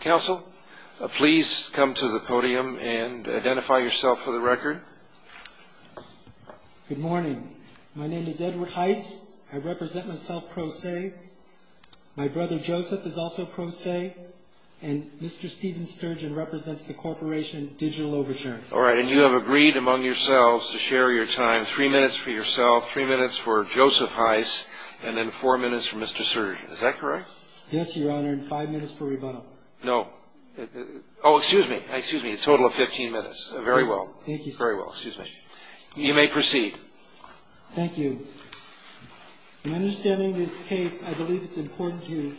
Council, please come to the podium and identify yourself for the record. Good morning. My name is Edward Hise. I represent myself pro se. My brother Joseph is also pro se. And Mr. Steven Sturgeon represents the corporation Digital Oversharing. All right. And you have agreed among yourselves to share your time. Three minutes for yourself, three minutes for Joseph Hise, and then four minutes for Mr. Sturgeon. Is that correct? Yes, Your Honor. And five minutes for rebuttal. No. Oh, excuse me. Excuse me. A total of 15 minutes. Very well. Thank you, sir. Very well. Excuse me. You may proceed. Thank you. In understanding this case, I believe it's important to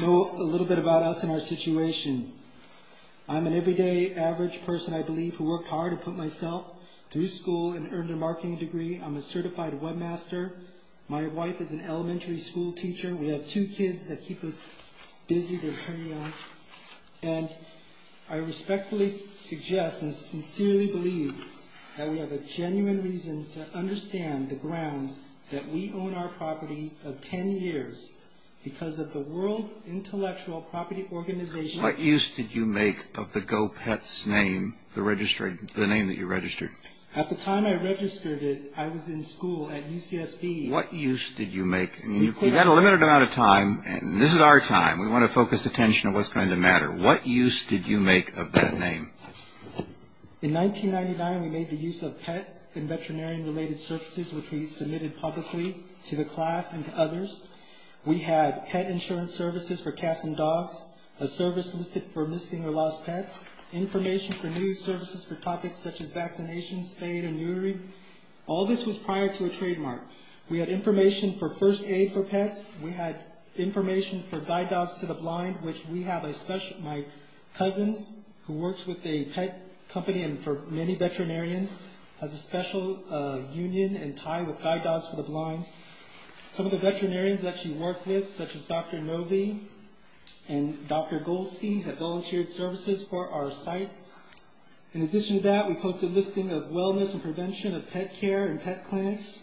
know a little bit about us and our situation. I'm an everyday average person, I believe, who worked hard and put myself through school and earned a marketing degree. I'm a certified webmaster. My wife is an elementary school teacher. We have two kids that keep us busy. They're very young. And I respectfully suggest and sincerely believe that we have a genuine reason to understand the grounds that we own our property of 10 years because of the World Intellectual Property Organization. What use did you make of the GoPets name, the name that you registered? At the time I registered it, I was in school at UCSB. What use did you make? We had a limited amount of time, and this is our time. We want to focus attention on what's going to matter. What use did you make of that name? In 1999, we made the use of pet and veterinarian-related services, which we submitted publicly to the class and to others. We had pet insurance services for cats and dogs, a service listed for missing or lost pets, information for news services for topics such as vaccination, spay and neutering. All this was prior to a trademark. We had information for First Aid for pets. We had information for Guide Dogs to the Blind, which we have a special – my cousin, who works with a pet company and for many veterinarians, has a special union and tie with Guide Dogs to the Blind. Some of the veterinarians that she worked with, such as Dr. Novi and Dr. Goldstein, have volunteered services for our site. In addition to that, we posted a listing of wellness and prevention of pet care and pet clinics.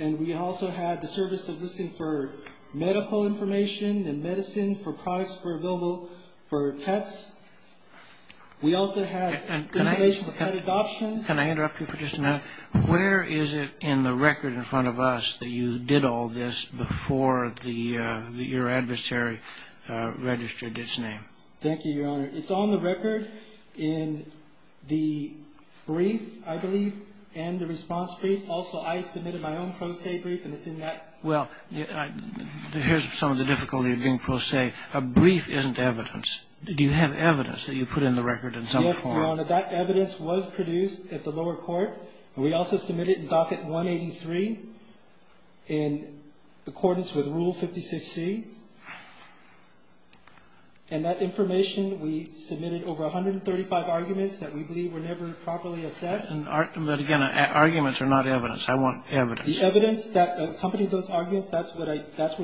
And we also had the service of listing for medical information and medicine for products that were available for pets. We also had information for pet adoptions. Can I interrupt you for just a minute? Where is it in the record in front of us that you did all this before your adversary registered its name? Thank you, Your Honor. It's on the record in the brief, I believe, and the response brief. Also, I submitted my own pro se brief, and it's in that. Well, here's some of the difficulty of being pro se. A brief isn't evidence. Do you have evidence that you put in the record in some form? Yes, Your Honor. That evidence was produced at the lower court. We also submitted it in Docket 183 in accordance with Rule 56C. And that information, we submitted over 135 arguments that we believe were never properly assessed. But again, arguments are not evidence. I want evidence. The evidence that accompanied those arguments, that's where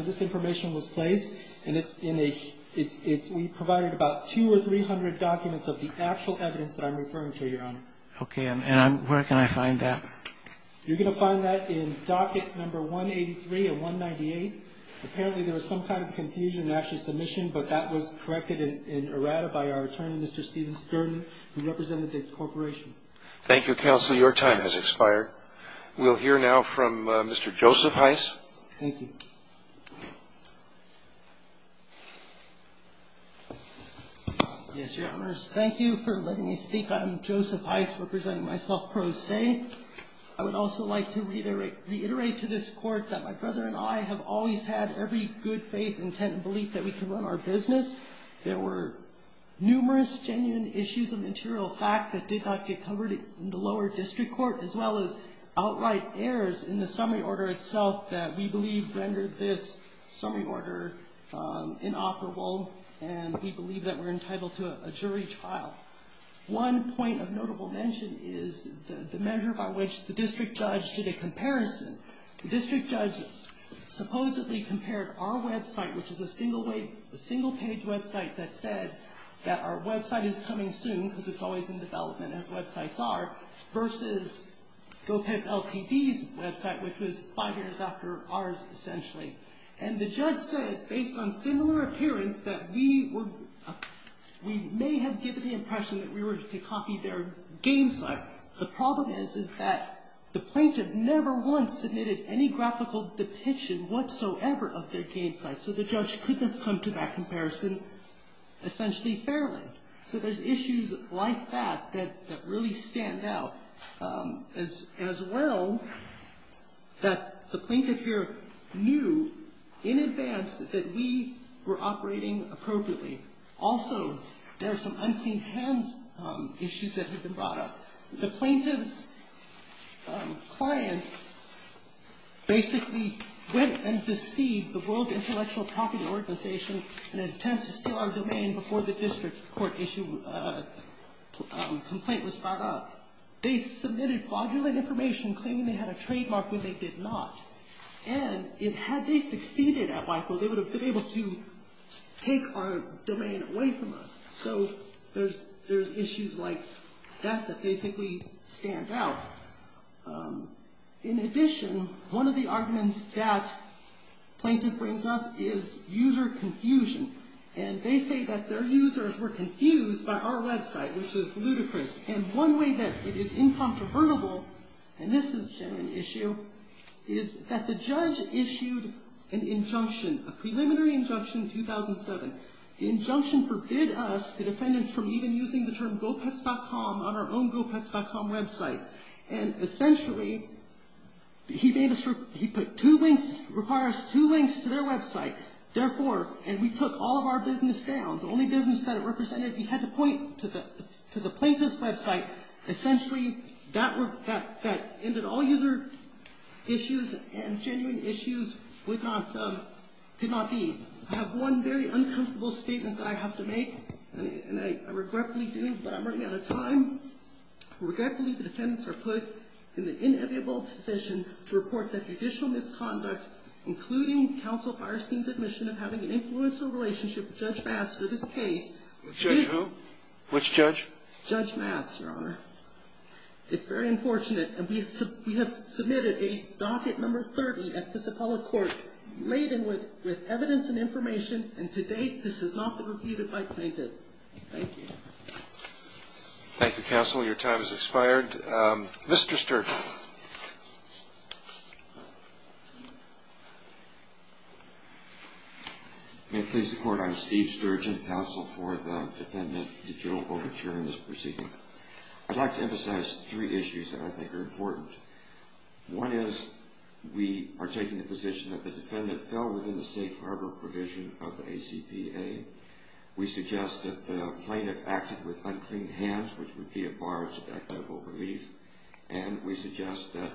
this information was placed. And we provided about 200 or 300 documents of the actual evidence that I'm referring to, Your Honor. Okay. And where can I find that? You're going to find that in Docket 183 and 198. Apparently, there was some kind of confusion in Ashley's submission, but that was corrected in errata by our attorney, Mr. Steven Stern, who represented the corporation. Thank you, Counsel. Your time has expired. We'll hear now from Mr. Joseph Heiss. Thank you. Yes, Your Honors. Thank you for letting me speak. I'm Joseph Heiss representing myself pro se. I would also like to reiterate to this Court that my brother and I have always had every good faith, intent, and belief that we could run our business. There were numerous genuine issues of material fact that did not get covered in the lower district court, as well as outright errors in the summary order itself that we believe rendered this summary order inoperable, and we believe that we're entitled to a jury trial. One point of notable mention is the measure by which the district judge did a comparison. The district judge supposedly compared our website, which is a single-page website, that said that our website is coming soon because it's always in development, as websites are, versus GO-PET's LTD's website, which was five years after ours, essentially. And the judge said, based on similar appearance, that we may have given the impression that we were to copy their game site. The problem is, is that the plaintiff never once submitted any graphical depiction whatsoever of their game site, so the judge couldn't have come to that comparison essentially fairly. So there's issues like that that really stand out, as well, that the plaintiff here knew in advance that we were operating appropriately. Also, there are some unclean hands issues that have been brought up. The plaintiff's client basically went and deceived the World Intellectual Property Organization in an attempt to steal our domain before the district court issue complaint was brought up. They submitted fraudulent information, claiming they had a trademark, when they did not. And had they succeeded at Michael, they would have been able to take our domain away from us. So there's issues like that that basically stand out. In addition, one of the arguments that plaintiff brings up is user confusion. And they say that their users were confused by our website, which is ludicrous. And one way that it is incontrovertible, and this has been an issue, is that the judge issued an injunction, a preliminary injunction in 2007. The injunction forbid us, the defendants, from even using the term gopets.com on our own gopets.com website. And essentially, he made us, he put two links, required us two links to their website. Therefore, and we took all of our business down, the only business that it represented, we had to point to the plaintiff's website. Essentially, that ended all user issues, and genuine issues could not be. I have one very uncomfortable statement that I have to make. And I regretfully do, but I'm running out of time. Regretfully, the defendants are put in the inevitable position to report that judicial misconduct, including counsel Fierstein's admission of having an influence or relationship with Judge Maths for this case. Judge who? Which judge? Judge Maths, Your Honor. It's very unfortunate. And we have submitted a docket number 30 at this appellate court laden with evidence and information. And to date, this has not been refuted by plaintiff. Thank you. Thank you, counsel. Your time has expired. Mr. Sturgeon. May it please the court, I'm Steve Sturgeon, counsel for the defendant, the judicial overture in this proceeding. I'd like to emphasize three issues that I think are important. One is, we are taking the position that the defendant fell within the safe harbor provision of the ACPA. We suggest that the plaintiff acted with unclean hands, which would be a barge of equitable relief. And we suggest that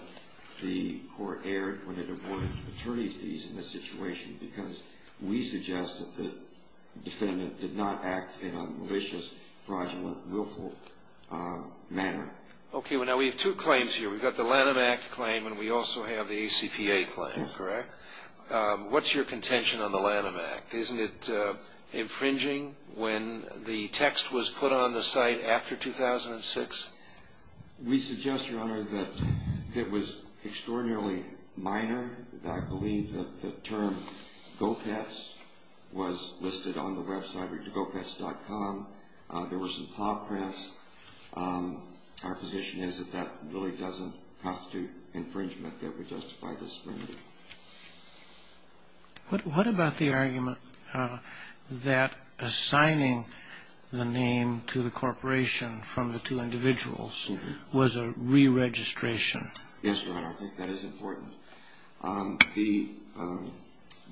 the court erred when it awarded attorney fees in this situation, because we suggest that the defendant did not act in a malicious, fraudulent, willful manner. Okay. Now, we have two claims here. We've got the Lanham Act claim and we also have the ACPA claim, correct? What's your contention on the Lanham Act? Isn't it infringing when the text was put on the site after 2006? We suggest, Your Honor, that it was extraordinarily minor. I believe that the term Gopetz was listed on the website, gopetz.com. There were some paw prints. Our position is that that really doesn't constitute infringement, that we justify this. What about the argument that assigning the name to the corporation from the two individuals was a re-registration? Yes, Your Honor, I think that is important. The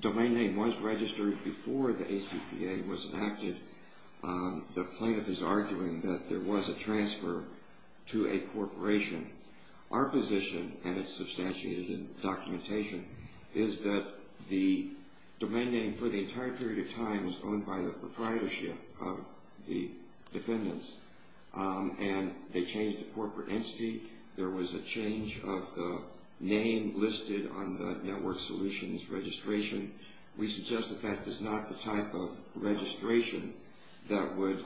domain name was registered before the ACPA was enacted. The plaintiff is arguing that there was a transfer to a corporation. Our position, and it's substantiated in the documentation, is that the domain name for the entire period of time was owned by the proprietorship of the defendants, and they changed the corporate entity. There was a change of the name listed on the network solutions registration. We suggest that that is not the type of registration that would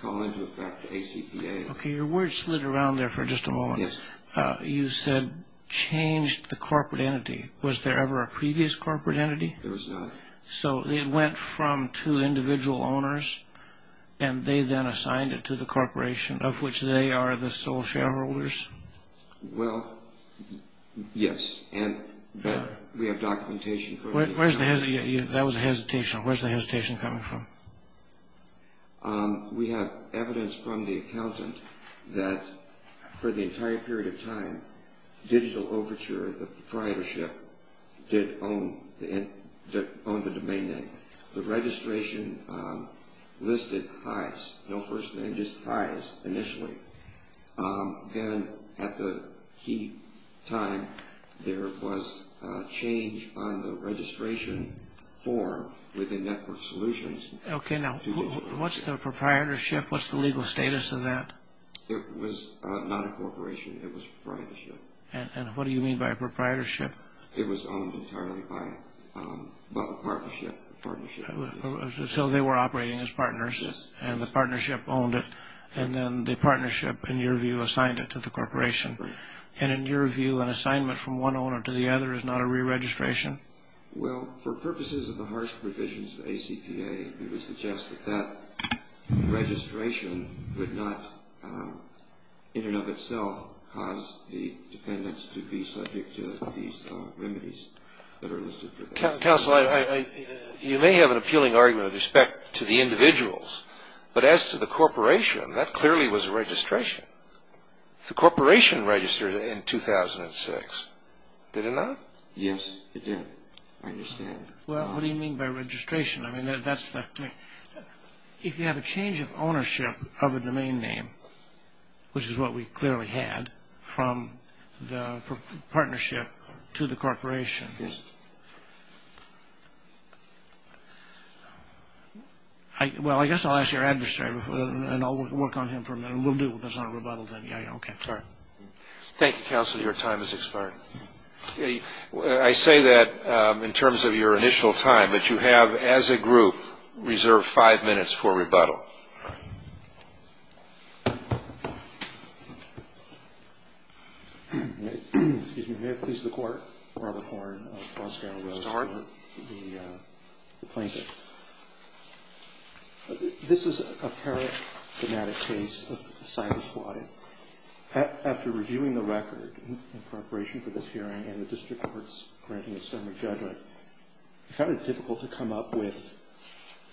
call into effect the ACPA. Okay, your words slid around there for just a moment. Yes. You said changed the corporate entity. Was there ever a previous corporate entity? There was not. So it went from two individual owners, and they then assigned it to the corporation, of which they are the sole shareholders? Well, yes, and we have documentation. That was a hesitation. Where's the hesitation coming from? We have evidence from the accountant that for the entire period of time, Digital Overture, the proprietorship, did own the domain name. The registration listed pies, no first name, just pies initially. Then at the key time, there was a change on the registration form with the network solutions, Okay, now what's the proprietorship? What's the legal status of that? It was not a corporation. It was a proprietorship. And what do you mean by a proprietorship? It was owned entirely by a partnership. So they were operating as partners, and the partnership owned it, and then the partnership, in your view, assigned it to the corporation. And in your view, an assignment from one owner to the other is not a reregistration? Well, for purposes of the harsh provisions of ACPA, it would suggest that that registration would not, in and of itself, cause the dependents to be subject to these remedies that are listed for that. Counsel, you may have an appealing argument with respect to the individuals, but as to the corporation, that clearly was a registration. The corporation registered in 2006, did it not? Yes, it did, I understand. Well, what do you mean by registration? I mean, that's the thing. If you have a change of ownership of a domain name, which is what we clearly had from the partnership to the corporation. Yes. Well, I guess I'll ask your adversary, and I'll work on him for a minute, and we'll deal with this on a rebuttal then. Yeah, okay. All right. Thank you, Counsel. Your time has expired. I say that in terms of your initial time, but you have, as a group, reserved five minutes for rebuttal. Excuse me. May it please the Court? Robert Horne of Roskow. Mr. Horne. The plaintiff. This is a paraphrenetic case of a cyber squadron. After reviewing the record in preparation for this hearing and the district court's granting a summary judgment, I found it difficult to come up with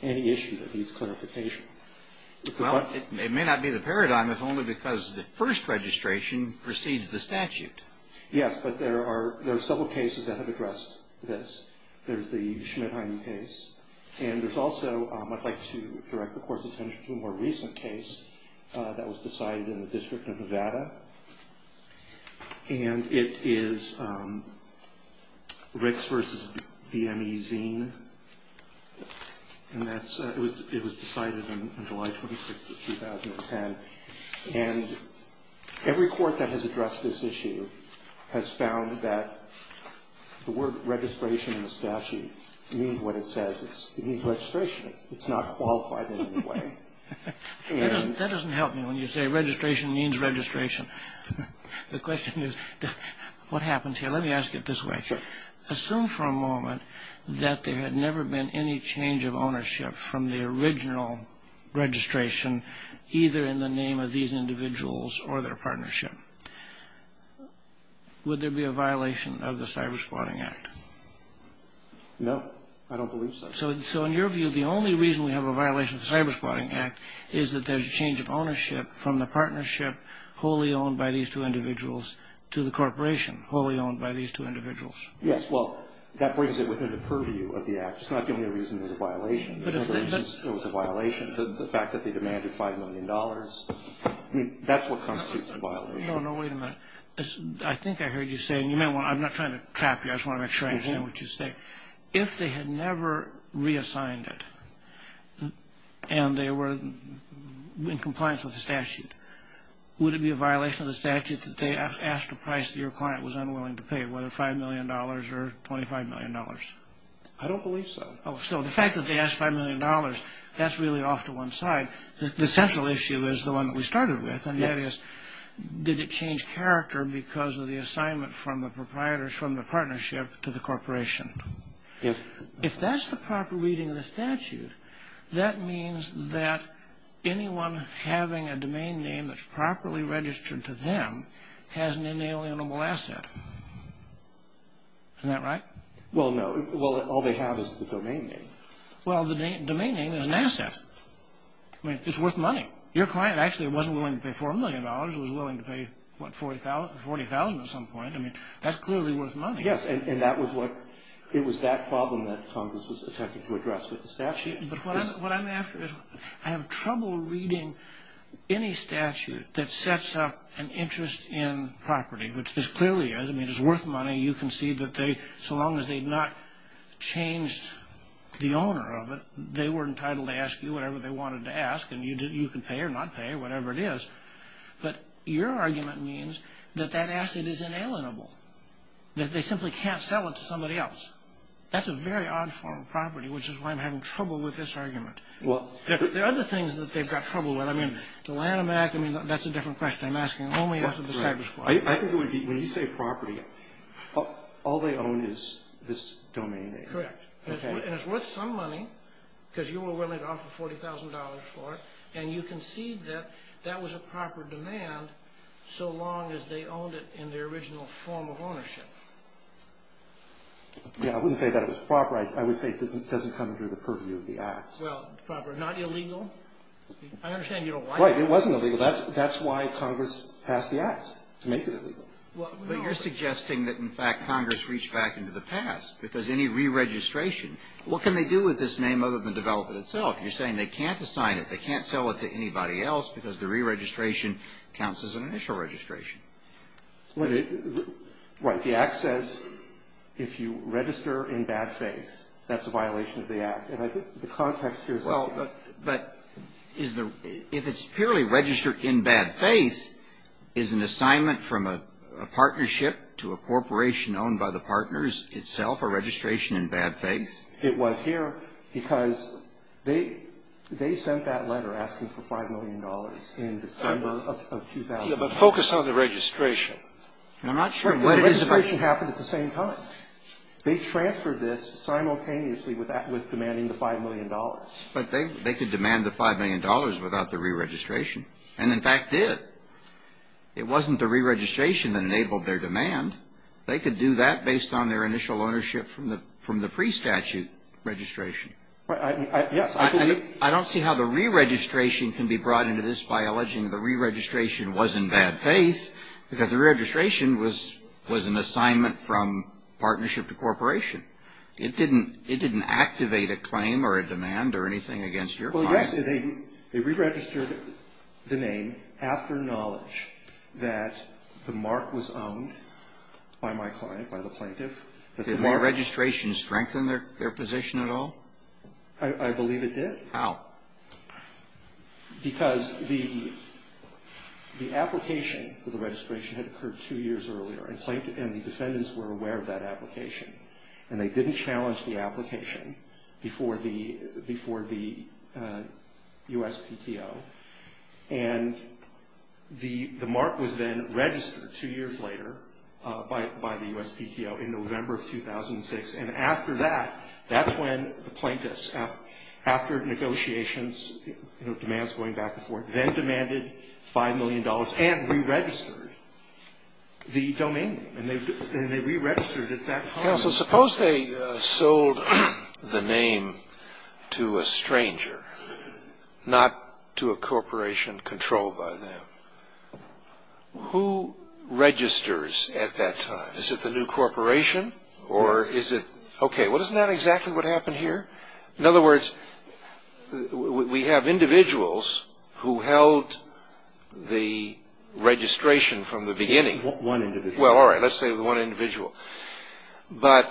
any issue that needs clarification. Well, it may not be the paradigm if only because the first registration precedes the statute. Yes, but there are several cases that have addressed this. There's the Schmidt-Heine case, and there's also, I'd like to direct the Court's attention to a more recent case that was decided in the District of Nevada, and it is Ricks v. V. M. E. Zine, and it was decided on July 26th of 2010. And every court that has addressed this issue has found that the word registration in the statute means what it says. It means registration. It's not qualified in any way. That doesn't help me when you say registration means registration. The question is, what happened here? Let me ask it this way. Sure. Assume for a moment that there had never been any change of ownership from the original registration, either in the name of these individuals or their partnership. Would there be a violation of the Cyber Squadron Act? No, I don't believe so. So in your view, the only reason we have a violation of the Cyber Squadron Act is that there's a change of ownership from the partnership wholly owned by these two individuals to the corporation wholly owned by these two individuals. Yes, well, that brings it within the purview of the Act. It's not the only reason there's a violation. There was a violation to the fact that they demanded $5 million. I mean, that's what constitutes a violation. No, no, wait a minute. I think I heard you say, and I'm not trying to trap you. I just want to make sure I understand what you're saying. If they had never reassigned it and they were in compliance with the statute, would it be a violation of the statute that they asked a price that your client was unwilling to pay, whether $5 million or $25 million? I don't believe so. So the fact that they asked $5 million, that's really off to one side. The central issue is the one that we started with, did it change character because of the assignment from the partnership to the corporation? Yes. If that's the proper reading of the statute, that means that anyone having a domain name that's properly registered to them has an inalienable asset. Isn't that right? Well, no. Well, all they have is the domain name. Well, the domain name is an asset. I mean, it's worth money. Your client actually wasn't willing to pay $4 million. He was willing to pay, what, $40,000 at some point. I mean, that's clearly worth money. Yes, and it was that problem that Congress was attempting to address with the statute. But what I'm after is I have trouble reading any statute that sets up an interest in property, which this clearly is. I mean, it's worth money. You can see that so long as they've not changed the owner of it, they were entitled to ask you whatever they wanted to ask, and you can pay or not pay or whatever it is. But your argument means that that asset is inalienable, that they simply can't sell it to somebody else. That's a very odd form of property, which is why I'm having trouble with this argument. There are other things that they've got trouble with. I mean, the Lanham Act, I mean, that's a different question. I'm asking only as to the Cybersquad. I think it would be, when you say property, all they own is this domain name. Correct. And it's worth some money because you were willing to offer $40,000 for it, and you concede that that was a proper demand so long as they owned it in the original form of ownership. Yeah. I wouldn't say that it was proper. I would say it doesn't come under the purview of the Act. Well, proper, not illegal. I understand you don't like it. Right. It wasn't illegal. That's why Congress passed the Act, to make it illegal. But you're suggesting that, in fact, Congress reached back into the past because any re-registration, what can they do with this name other than develop it itself? You're saying they can't assign it. They can't sell it to anybody else because the re-registration counts as an initial registration. Right. The Act says if you register in bad faith, that's a violation of the Act. And I think the context here is the same. But if it's purely registered in bad faith, is an assignment from a partnership to a corporation owned by the partners itself a registration in bad faith? It was here because they sent that letter asking for $5 million in December of 2006. Yeah, but focus on the registration. And I'm not sure what it is about. The registration happened at the same time. They transferred this simultaneously with demanding the $5 million. But they could demand the $5 million without the re-registration. And, in fact, did. It wasn't the re-registration that enabled their demand. They could do that based on their initial ownership from the pre-statute registration. Yes. I don't see how the re-registration can be brought into this by alleging the re-registration was in bad faith because the re-registration was an assignment from partnership to corporation. It didn't activate a claim or a demand or anything against your client. Well, yes. They re-registered the name after knowledge that the mark was owned by my client, by the plaintiff. Did the re-registration strengthen their position at all? I believe it did. How? Because the application for the registration had occurred two years earlier. And the defendants were aware of that application. And they didn't challenge the application before the USPTO. And the mark was then registered two years later by the USPTO in November of 2006. And after that, that's when the plaintiffs, after negotiations, demands going back and forth, then demanded $5 million and re-registered. The domain name. And they re-registered at that time. Counsel, suppose they sold the name to a stranger, not to a corporation controlled by them. Who registers at that time? Is it the new corporation? Yes. Okay. Well, isn't that exactly what happened here? In other words, we have individuals who held the registration from the beginning. One individual. Well, all right. Let's say the one individual. But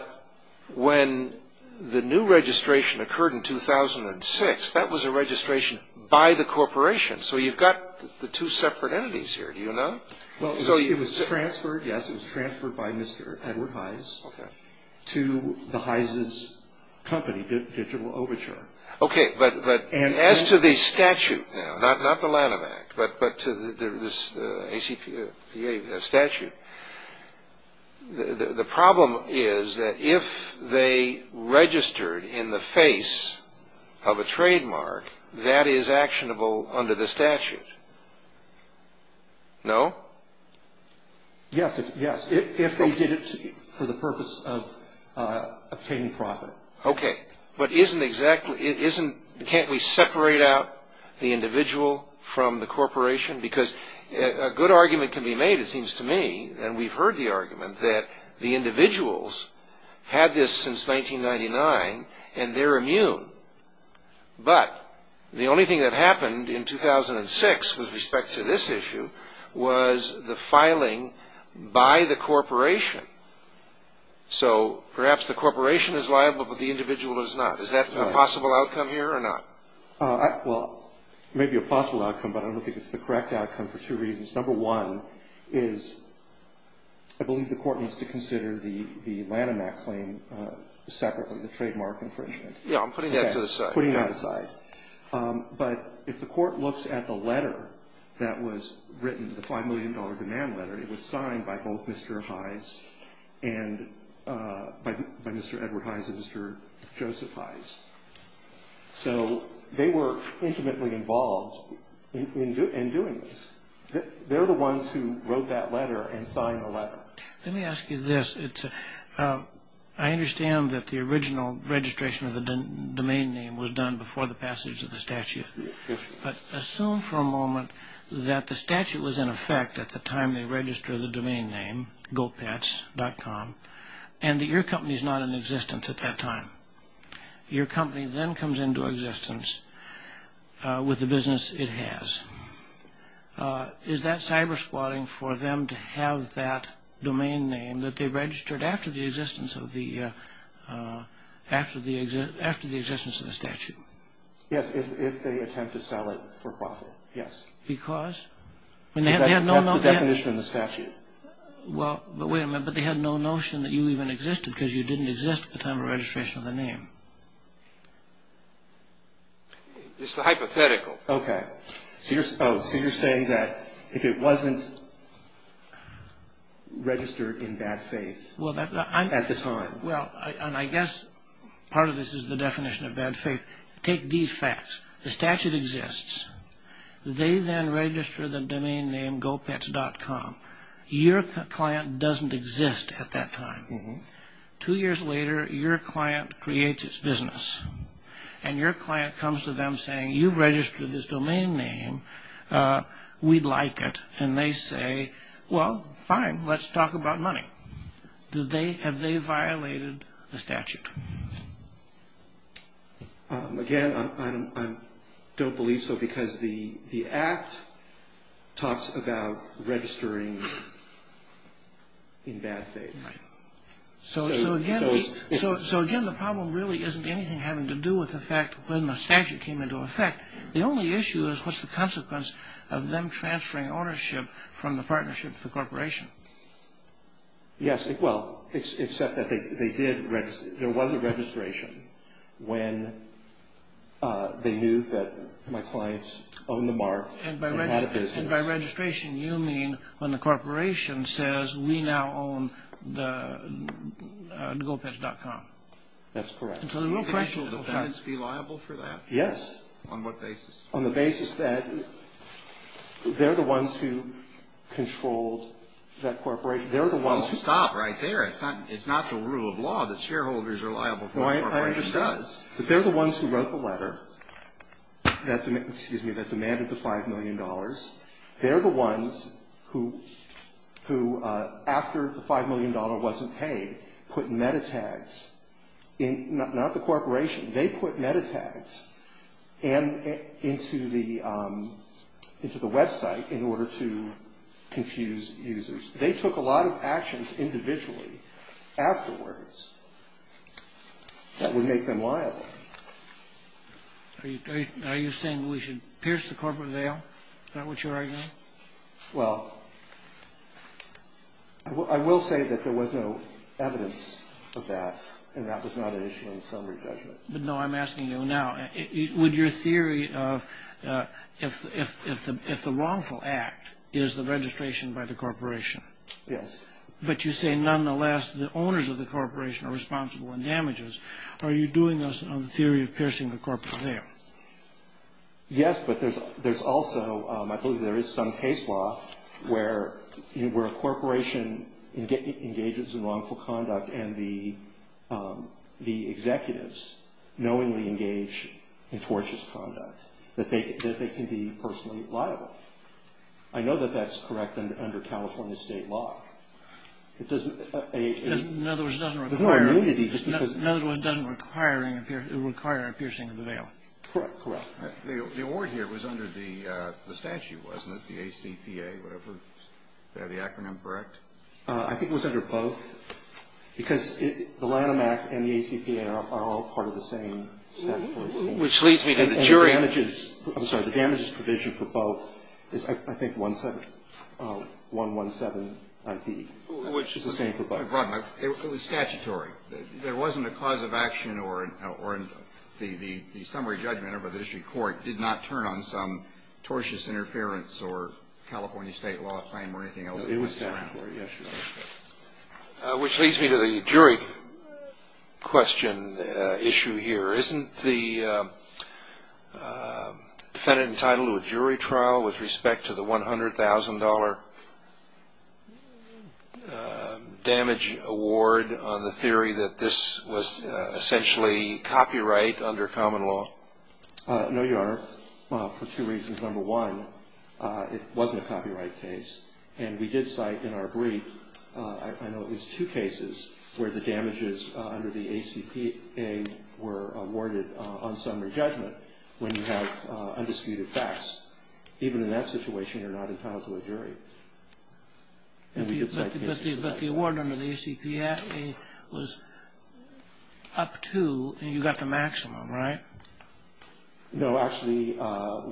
when the new registration occurred in 2006, that was a registration by the corporation. So you've got the two separate entities here. Do you know? Well, it was transferred, yes. It was transferred by Mr. Edward Heise to the Heise's company, Digital Overture. Okay. But as to the statute now, not the Lanham Act, but to this ACPA statute, the problem is that if they registered in the face of a trademark, that is actionable under the statute. No? Yes. If they did it for the purpose of obtaining profit. Okay. But isn't exactly, can't we separate out the individual from the corporation? Because a good argument can be made, it seems to me, and we've heard the argument, But the only thing that happened in 2006 with respect to this issue was the filing by the corporation. So perhaps the corporation is liable, but the individual is not. Is that a possible outcome here or not? Well, it may be a possible outcome, but I don't think it's the correct outcome for two reasons. Number one is I believe the court needs to consider the Lanham Act claim separately, the trademark infringement. Yeah, I'm putting that to the side. Putting that aside. But if the court looks at the letter that was written, the $5 million demand letter, it was signed by both Mr. Heise and by Mr. Edward Heise and Mr. Joseph Heise. So they were intimately involved in doing this. They're the ones who wrote that letter and signed the letter. Let me ask you this. I understand that the original registration of the domain name was done before the passage of the statute. But assume for a moment that the statute was in effect at the time they registered the domain name, gopets.com, and that your company is not in existence at that time. Your company then comes into existence with the business it has. Is that cyber-squatting for them to have that domain name that they registered after the existence of the statute? Yes, if they attempt to sell it for profit, yes. Because? That's the definition of the statute. Well, but wait a minute. But they had no notion that you even existed because you didn't exist at the time of registration of the name. It's the hypothetical. Okay. So you're saying that if it wasn't registered in bad faith at the time. Well, and I guess part of this is the definition of bad faith. Take these facts. The statute exists. They then register the domain name gopets.com. Your client doesn't exist at that time. Two years later, your client creates its business. And your client comes to them saying, you've registered this domain name. We like it. And they say, well, fine, let's talk about money. Have they violated the statute? Again, I don't believe so because the Act talks about registering in bad faith. So, again, the problem really isn't anything having to do with the fact when the statute came into effect. The only issue is what's the consequence of them transferring ownership from the partnership to the corporation? Yes. Well, except that there was a registration when they knew that my clients owned the mark and had a business. And by registration, you mean when the corporation says, we now own the gopets.com. That's correct. And so the real question was that. Would the clients be liable for that? Yes. On what basis? On the basis that they're the ones who controlled that corporation. Well, stop right there. It's not the rule of law that shareholders are liable for what a corporation does. But they're the ones who wrote the letter that demanded the $5 million. They're the ones who, after the $5 million wasn't paid, put metatags, not the corporation. They put metatags into the website in order to confuse users. They took a lot of actions individually afterwards that would make them liable. Are you saying we should pierce the corporate veil? Is that what you're arguing? Well, I will say that there was no evidence of that, and that was not an issue in summary judgment. No, I'm asking you now, would your theory of if the wrongful act is the registration by the corporation. Yes. But you say, nonetheless, the owners of the corporation are responsible in damages. Are you doing this on the theory of piercing the corporate veil? Yes, but there's also, I believe there is some case law where a corporation engages in wrongful conduct and the executives knowingly engage in tortious conduct, that they can be personally liable. I know that that's correct under California state law. In other words, it doesn't require a piercing of the veil. Correct, correct. The award here was under the statute, wasn't it? The ACPA, whatever. Is the acronym correct? I think it was under both, because the Lanham Act and the ACPA are all part of the same statute. Which leads me to the jury. I'm sorry. The damages provision for both is, I think, 117 IP. Which is the same for both. It was statutory. There wasn't a cause of action or the summary judgment or the district court did not turn on some tortious interference or California state law claim or anything else. It was statutory, yes, Your Honor. Which leads me to the jury question issue here. Isn't the defendant entitled to a jury trial with respect to the $100,000 damage award on the theory that this was essentially copyright under common law? No, Your Honor, for two reasons. Number one, it wasn't a copyright case, and we did cite in our brief, I know it was two cases, where the damages under the ACPA were awarded on summary judgment when you have undisputed facts. Even in that situation, you're not entitled to a jury. But the award under the ACPA was up to, and you got the maximum, right? No, actually,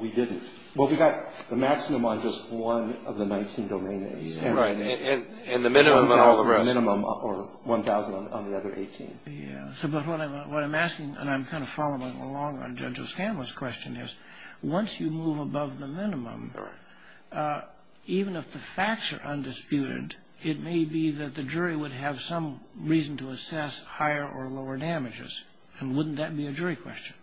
we didn't. Well, we got the maximum on just one of the 19 domain names. Right. And the minimum on all the rest. The minimum or 1,000 on the other 18. Yes. But what I'm asking, and I'm kind of following along on Judge O'Scanlon's question is, once you move above the minimum, even if the facts are undisputed, it may be that the jury would have some reason to assess higher or lower damages. And wouldn't that be a jury question?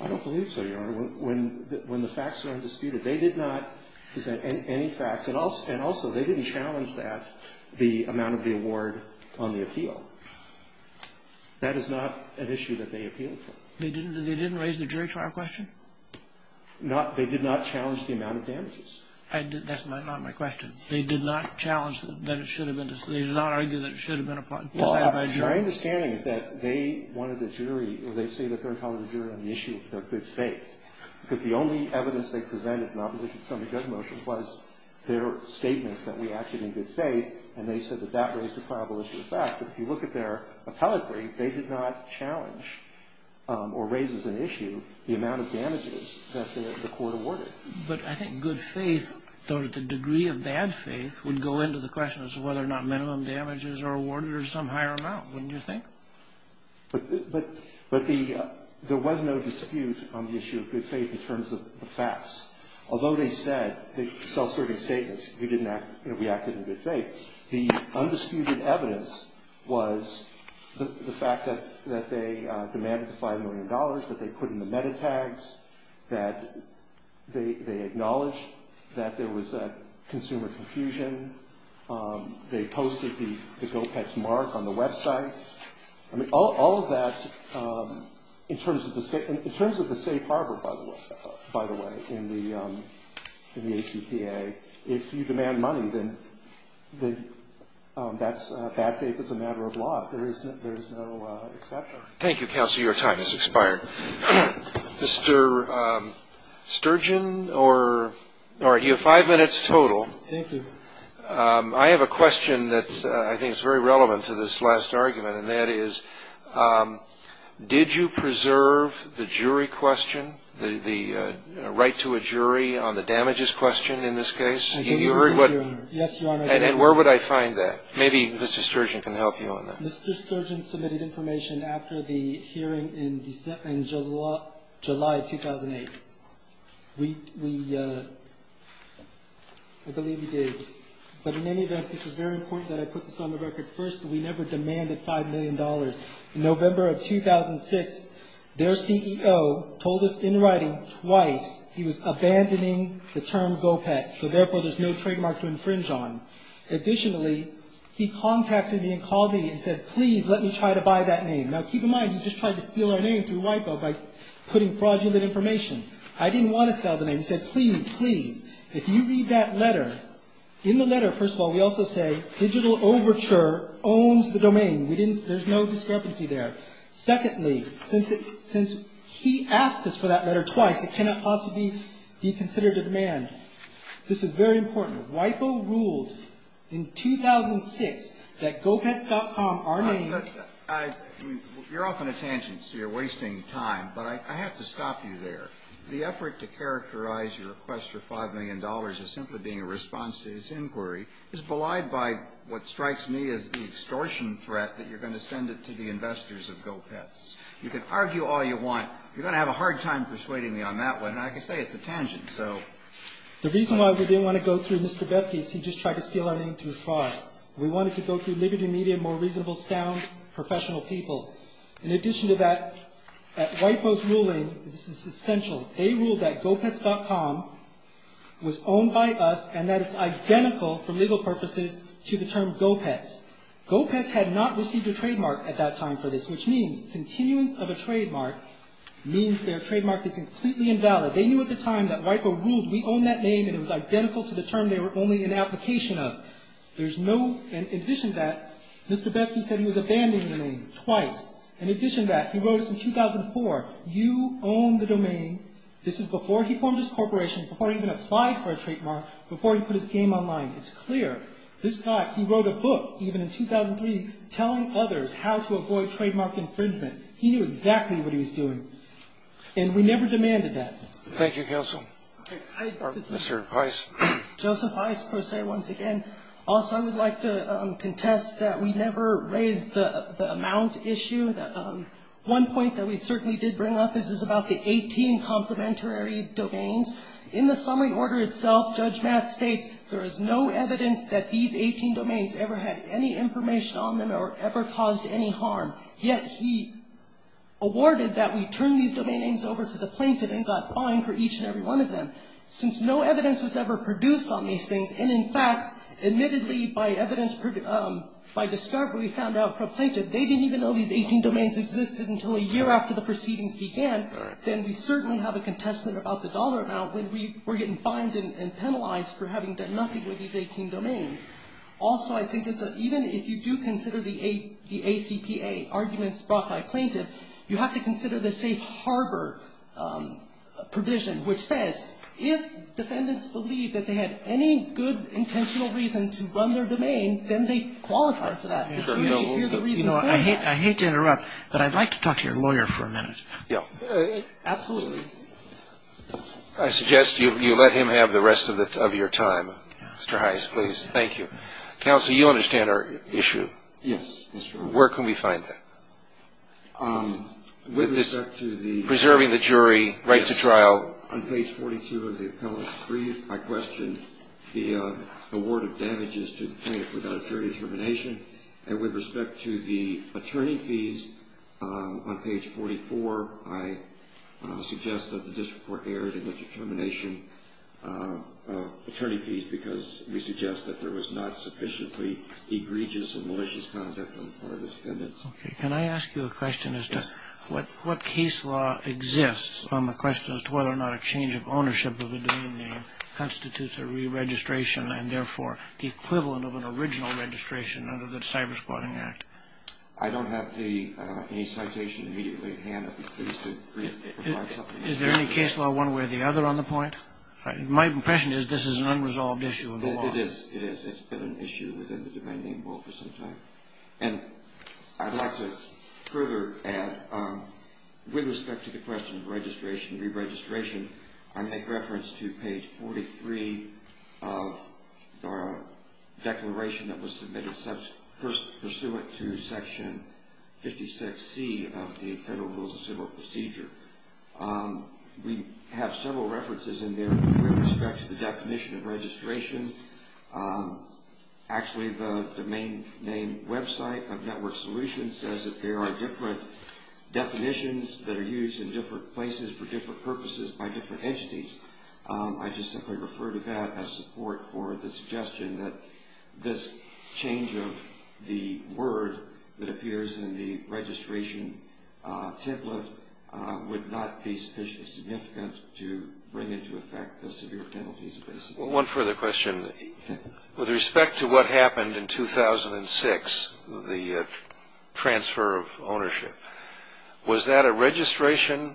I don't believe so, Your Honor. When the facts are undisputed, they did not present any facts. And also, they didn't challenge that, the amount of the award on the appeal. That is not an issue that they appealed for. They didn't raise the jury trial question? They did not challenge the amount of damages. That's not my question. They did not challenge that it should have been decided by a jury? My understanding is that they wanted a jury, or they say that they're calling the jury on the issue of their good faith. Because the only evidence they presented in opposition to the Sotomayor judge motion was their statements that we acted in good faith, and they said that that raised a probable issue of fact. But if you look at their appellate brief, they did not challenge or raise as an issue the amount of damages that the court awarded. But I think good faith, or the degree of bad faith, would go into the question as to whether or not minimum damages are awarded or some higher amount, wouldn't you think? But there was no dispute on the issue of good faith in terms of the facts. Although they said, self-serving statements, we acted in good faith, the undisputed evidence was the fact that they demanded the $5 million, that they put in the metatags, that they acknowledged that there was that consumer confusion. They posted the GO-PETS mark on the website. I mean, all of that, in terms of the safe harbor, by the way, in the ACPA, if you demand money, then that's bad faith as a matter of law. There is no exception. Thank you, counsel. Your time has expired. Mr. Sturgeon, you have five minutes total. Thank you. I have a question that I think is very relevant to this last argument, and that is, did you preserve the jury question, the right to a jury on the damages question in this case? Yes, Your Honor. And where would I find that? Maybe Mr. Sturgeon can help you on that. Mr. Sturgeon submitted information after the hearing in July of 2008. I believe he did. But in any event, this is very important that I put this on the record. First, we never demanded $5 million. In November of 2006, their CEO told us in writing twice he was abandoning the term GO-PETS, so therefore there's no trademark to infringe on. Additionally, he contacted me and called me and said, please let me try to buy that name. Now, keep in mind, he just tried to steal our name through WIPO by putting fraudulent information. I didn't want to sell the name. He said, please, please. If you read that letter, in the letter, first of all, we also say digital overture owns the domain. There's no discrepancy there. Secondly, since he asked us for that letter twice, it cannot possibly be considered a demand. This is very important. WIPO ruled in 2006 that GO-PETS.com, our name. You're off on a tangent, so you're wasting time. But I have to stop you there. The effort to characterize your request for $5 million as simply being a response to his inquiry is belied by what strikes me as the extortion threat that you're going to send it to the investors of GO-PETS. You can argue all you want. You're going to have a hard time persuading me on that one, and I can say it's a tangent. The reason why we didn't want to go through Mr. Bethke is he just tried to steal our name through fraud. We wanted to go through Liberty Media, more reasonable, sound, professional people. In addition to that, at WIPO's ruling, this is essential, they ruled that GO-PETS.com was owned by us and that it's identical, for legal purposes, to the term GO-PETS. GO-PETS had not received a trademark at that time for this, which means continuance of a trademark means their trademark is completely invalid. They knew at the time that WIPO ruled we own that name, and it was identical to the term they were only in application of. In addition to that, Mr. Bethke said he was abandoning the name twice. In addition to that, he wrote us in 2004, you own the domain. This is before he formed his corporation, before he even applied for a trademark, before he put his game online. It's clear. This guy, he wrote a book, even in 2003, telling others how to avoid trademark infringement. He knew exactly what he was doing, and we never demanded that. Thank you, counsel. Mr. Weiss. Joseph Weiss, Pro Se once again. Also, I would like to contest that we never raised the amount issue. One point that we certainly did bring up, this is about the 18 complementary domains. In the summary order itself, Judge Matt states there is no evidence that these 18 domains ever had any information on them or ever caused any harm, yet he awarded that we turn these domain names over to the plaintiff and got fined for each and every one of them. Since no evidence was ever produced on these things, and in fact, admittedly, by evidence, by discovery, we found out from plaintiff, they didn't even know these 18 domains existed until a year after the proceedings began, then we certainly have a contestment about the dollar amount when we were getting fined and penalized for having done nothing with these 18 domains. Also, I think it's a, even if you do consider the ACPA arguments brought by plaintiff, you have to consider the safe harbor provision, which says if defendants believe that they had any good intentional reason to run their domain, then they qualify for that. We should hear the reasons for that. I hate to interrupt, but I'd like to talk to your lawyer for a minute. Yeah. Absolutely. I suggest you let him have the rest of your time. Mr. Heiss, please. Thank you. Counsel, you understand our issue. Yes. Where can we find that? With respect to the ---- Preserving the jury, right to trial. On page 42 of the appellate brief, I question the award of damages to the plaintiff without jury determination, and with respect to the attorney fees on page 44, I suggest that the district court erred in the determination of attorney fees because we suggest that there was not sufficiently egregious and malicious conduct on the part of the defendant. Okay. Can I ask you a question as to what case law exists on the question as to whether or not a change of ownership of a domain name constitutes a re-registration, and therefore the equivalent of an original registration under the Cyber-Squatting Act? I don't have any citation immediately at hand. I'd be pleased to provide something. Is there any case law one way or the other on the point? My impression is this is an unresolved issue in the law. It is. It's been an issue within the domain name law for some time. And I'd like to further add, with respect to the question of registration, re-registration, I make reference to page 43 of the declaration that was submitted pursuant to Section 56C of the Federal Rules of Civil Procedure. We have several references in there with respect to the definition of registration. Actually, the domain name website of Network Solutions says that there are different definitions that are used in different places for different purposes by different entities. I just simply refer to that as support for the suggestion that this change of the word that would not be sufficiently significant to bring into effect the severe penalties. One further question. With respect to what happened in 2006, the transfer of ownership, was that a registration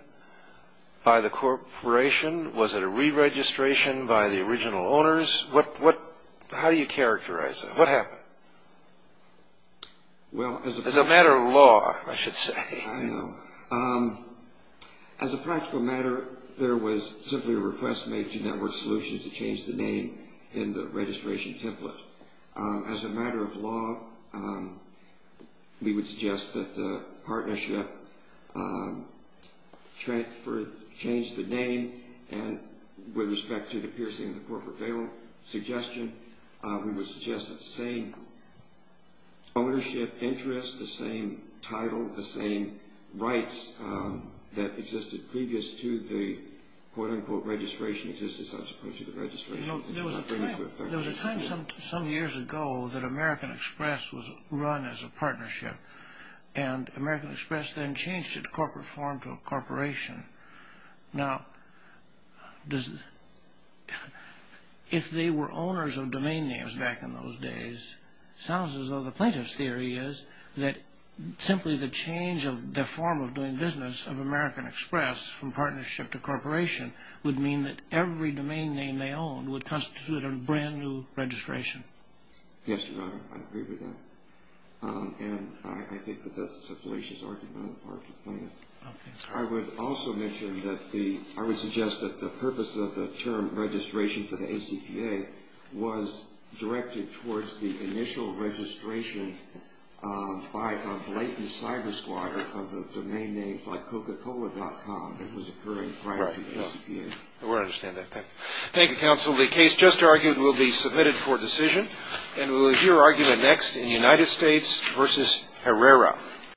by the corporation? Was it a re-registration by the original owners? How do you characterize that? What happened? As a matter of law, I should say. I know. As a practical matter, there was simply a request made to Network Solutions to change the name in the registration template. As a matter of law, we would suggest that the partnership change the name. With respect to the piercing of the corporate bail suggestion, we would suggest that the same ownership, interest, the same title, the same rights that existed previous to the quote-unquote registration existed subsequently to the registration. There was a time some years ago that American Express was run as a partnership, and American Express then changed its corporate form to a corporation. Now, if they were owners of domain names back in those days, it sounds as though the plaintiff's theory is that simply the change of the form of doing business of American Express from partnership to corporation would mean that every domain name they owned would constitute a brand new registration. Yes, Your Honor. I agree with that. And I think that that's a fallacious argument on the part of the plaintiff. I would also mention that the – I would suggest that the purpose of the term registration for the ACPA was directed towards the initial registration by a blatant cyber squad of a domain name like Coca-Cola.com that was occurring prior to the ACPA. Right. I want to understand that. Thank you. Thank you, Counsel. The case just argued will be submitted for decision. And we'll hear argument next in United States v. Herrera.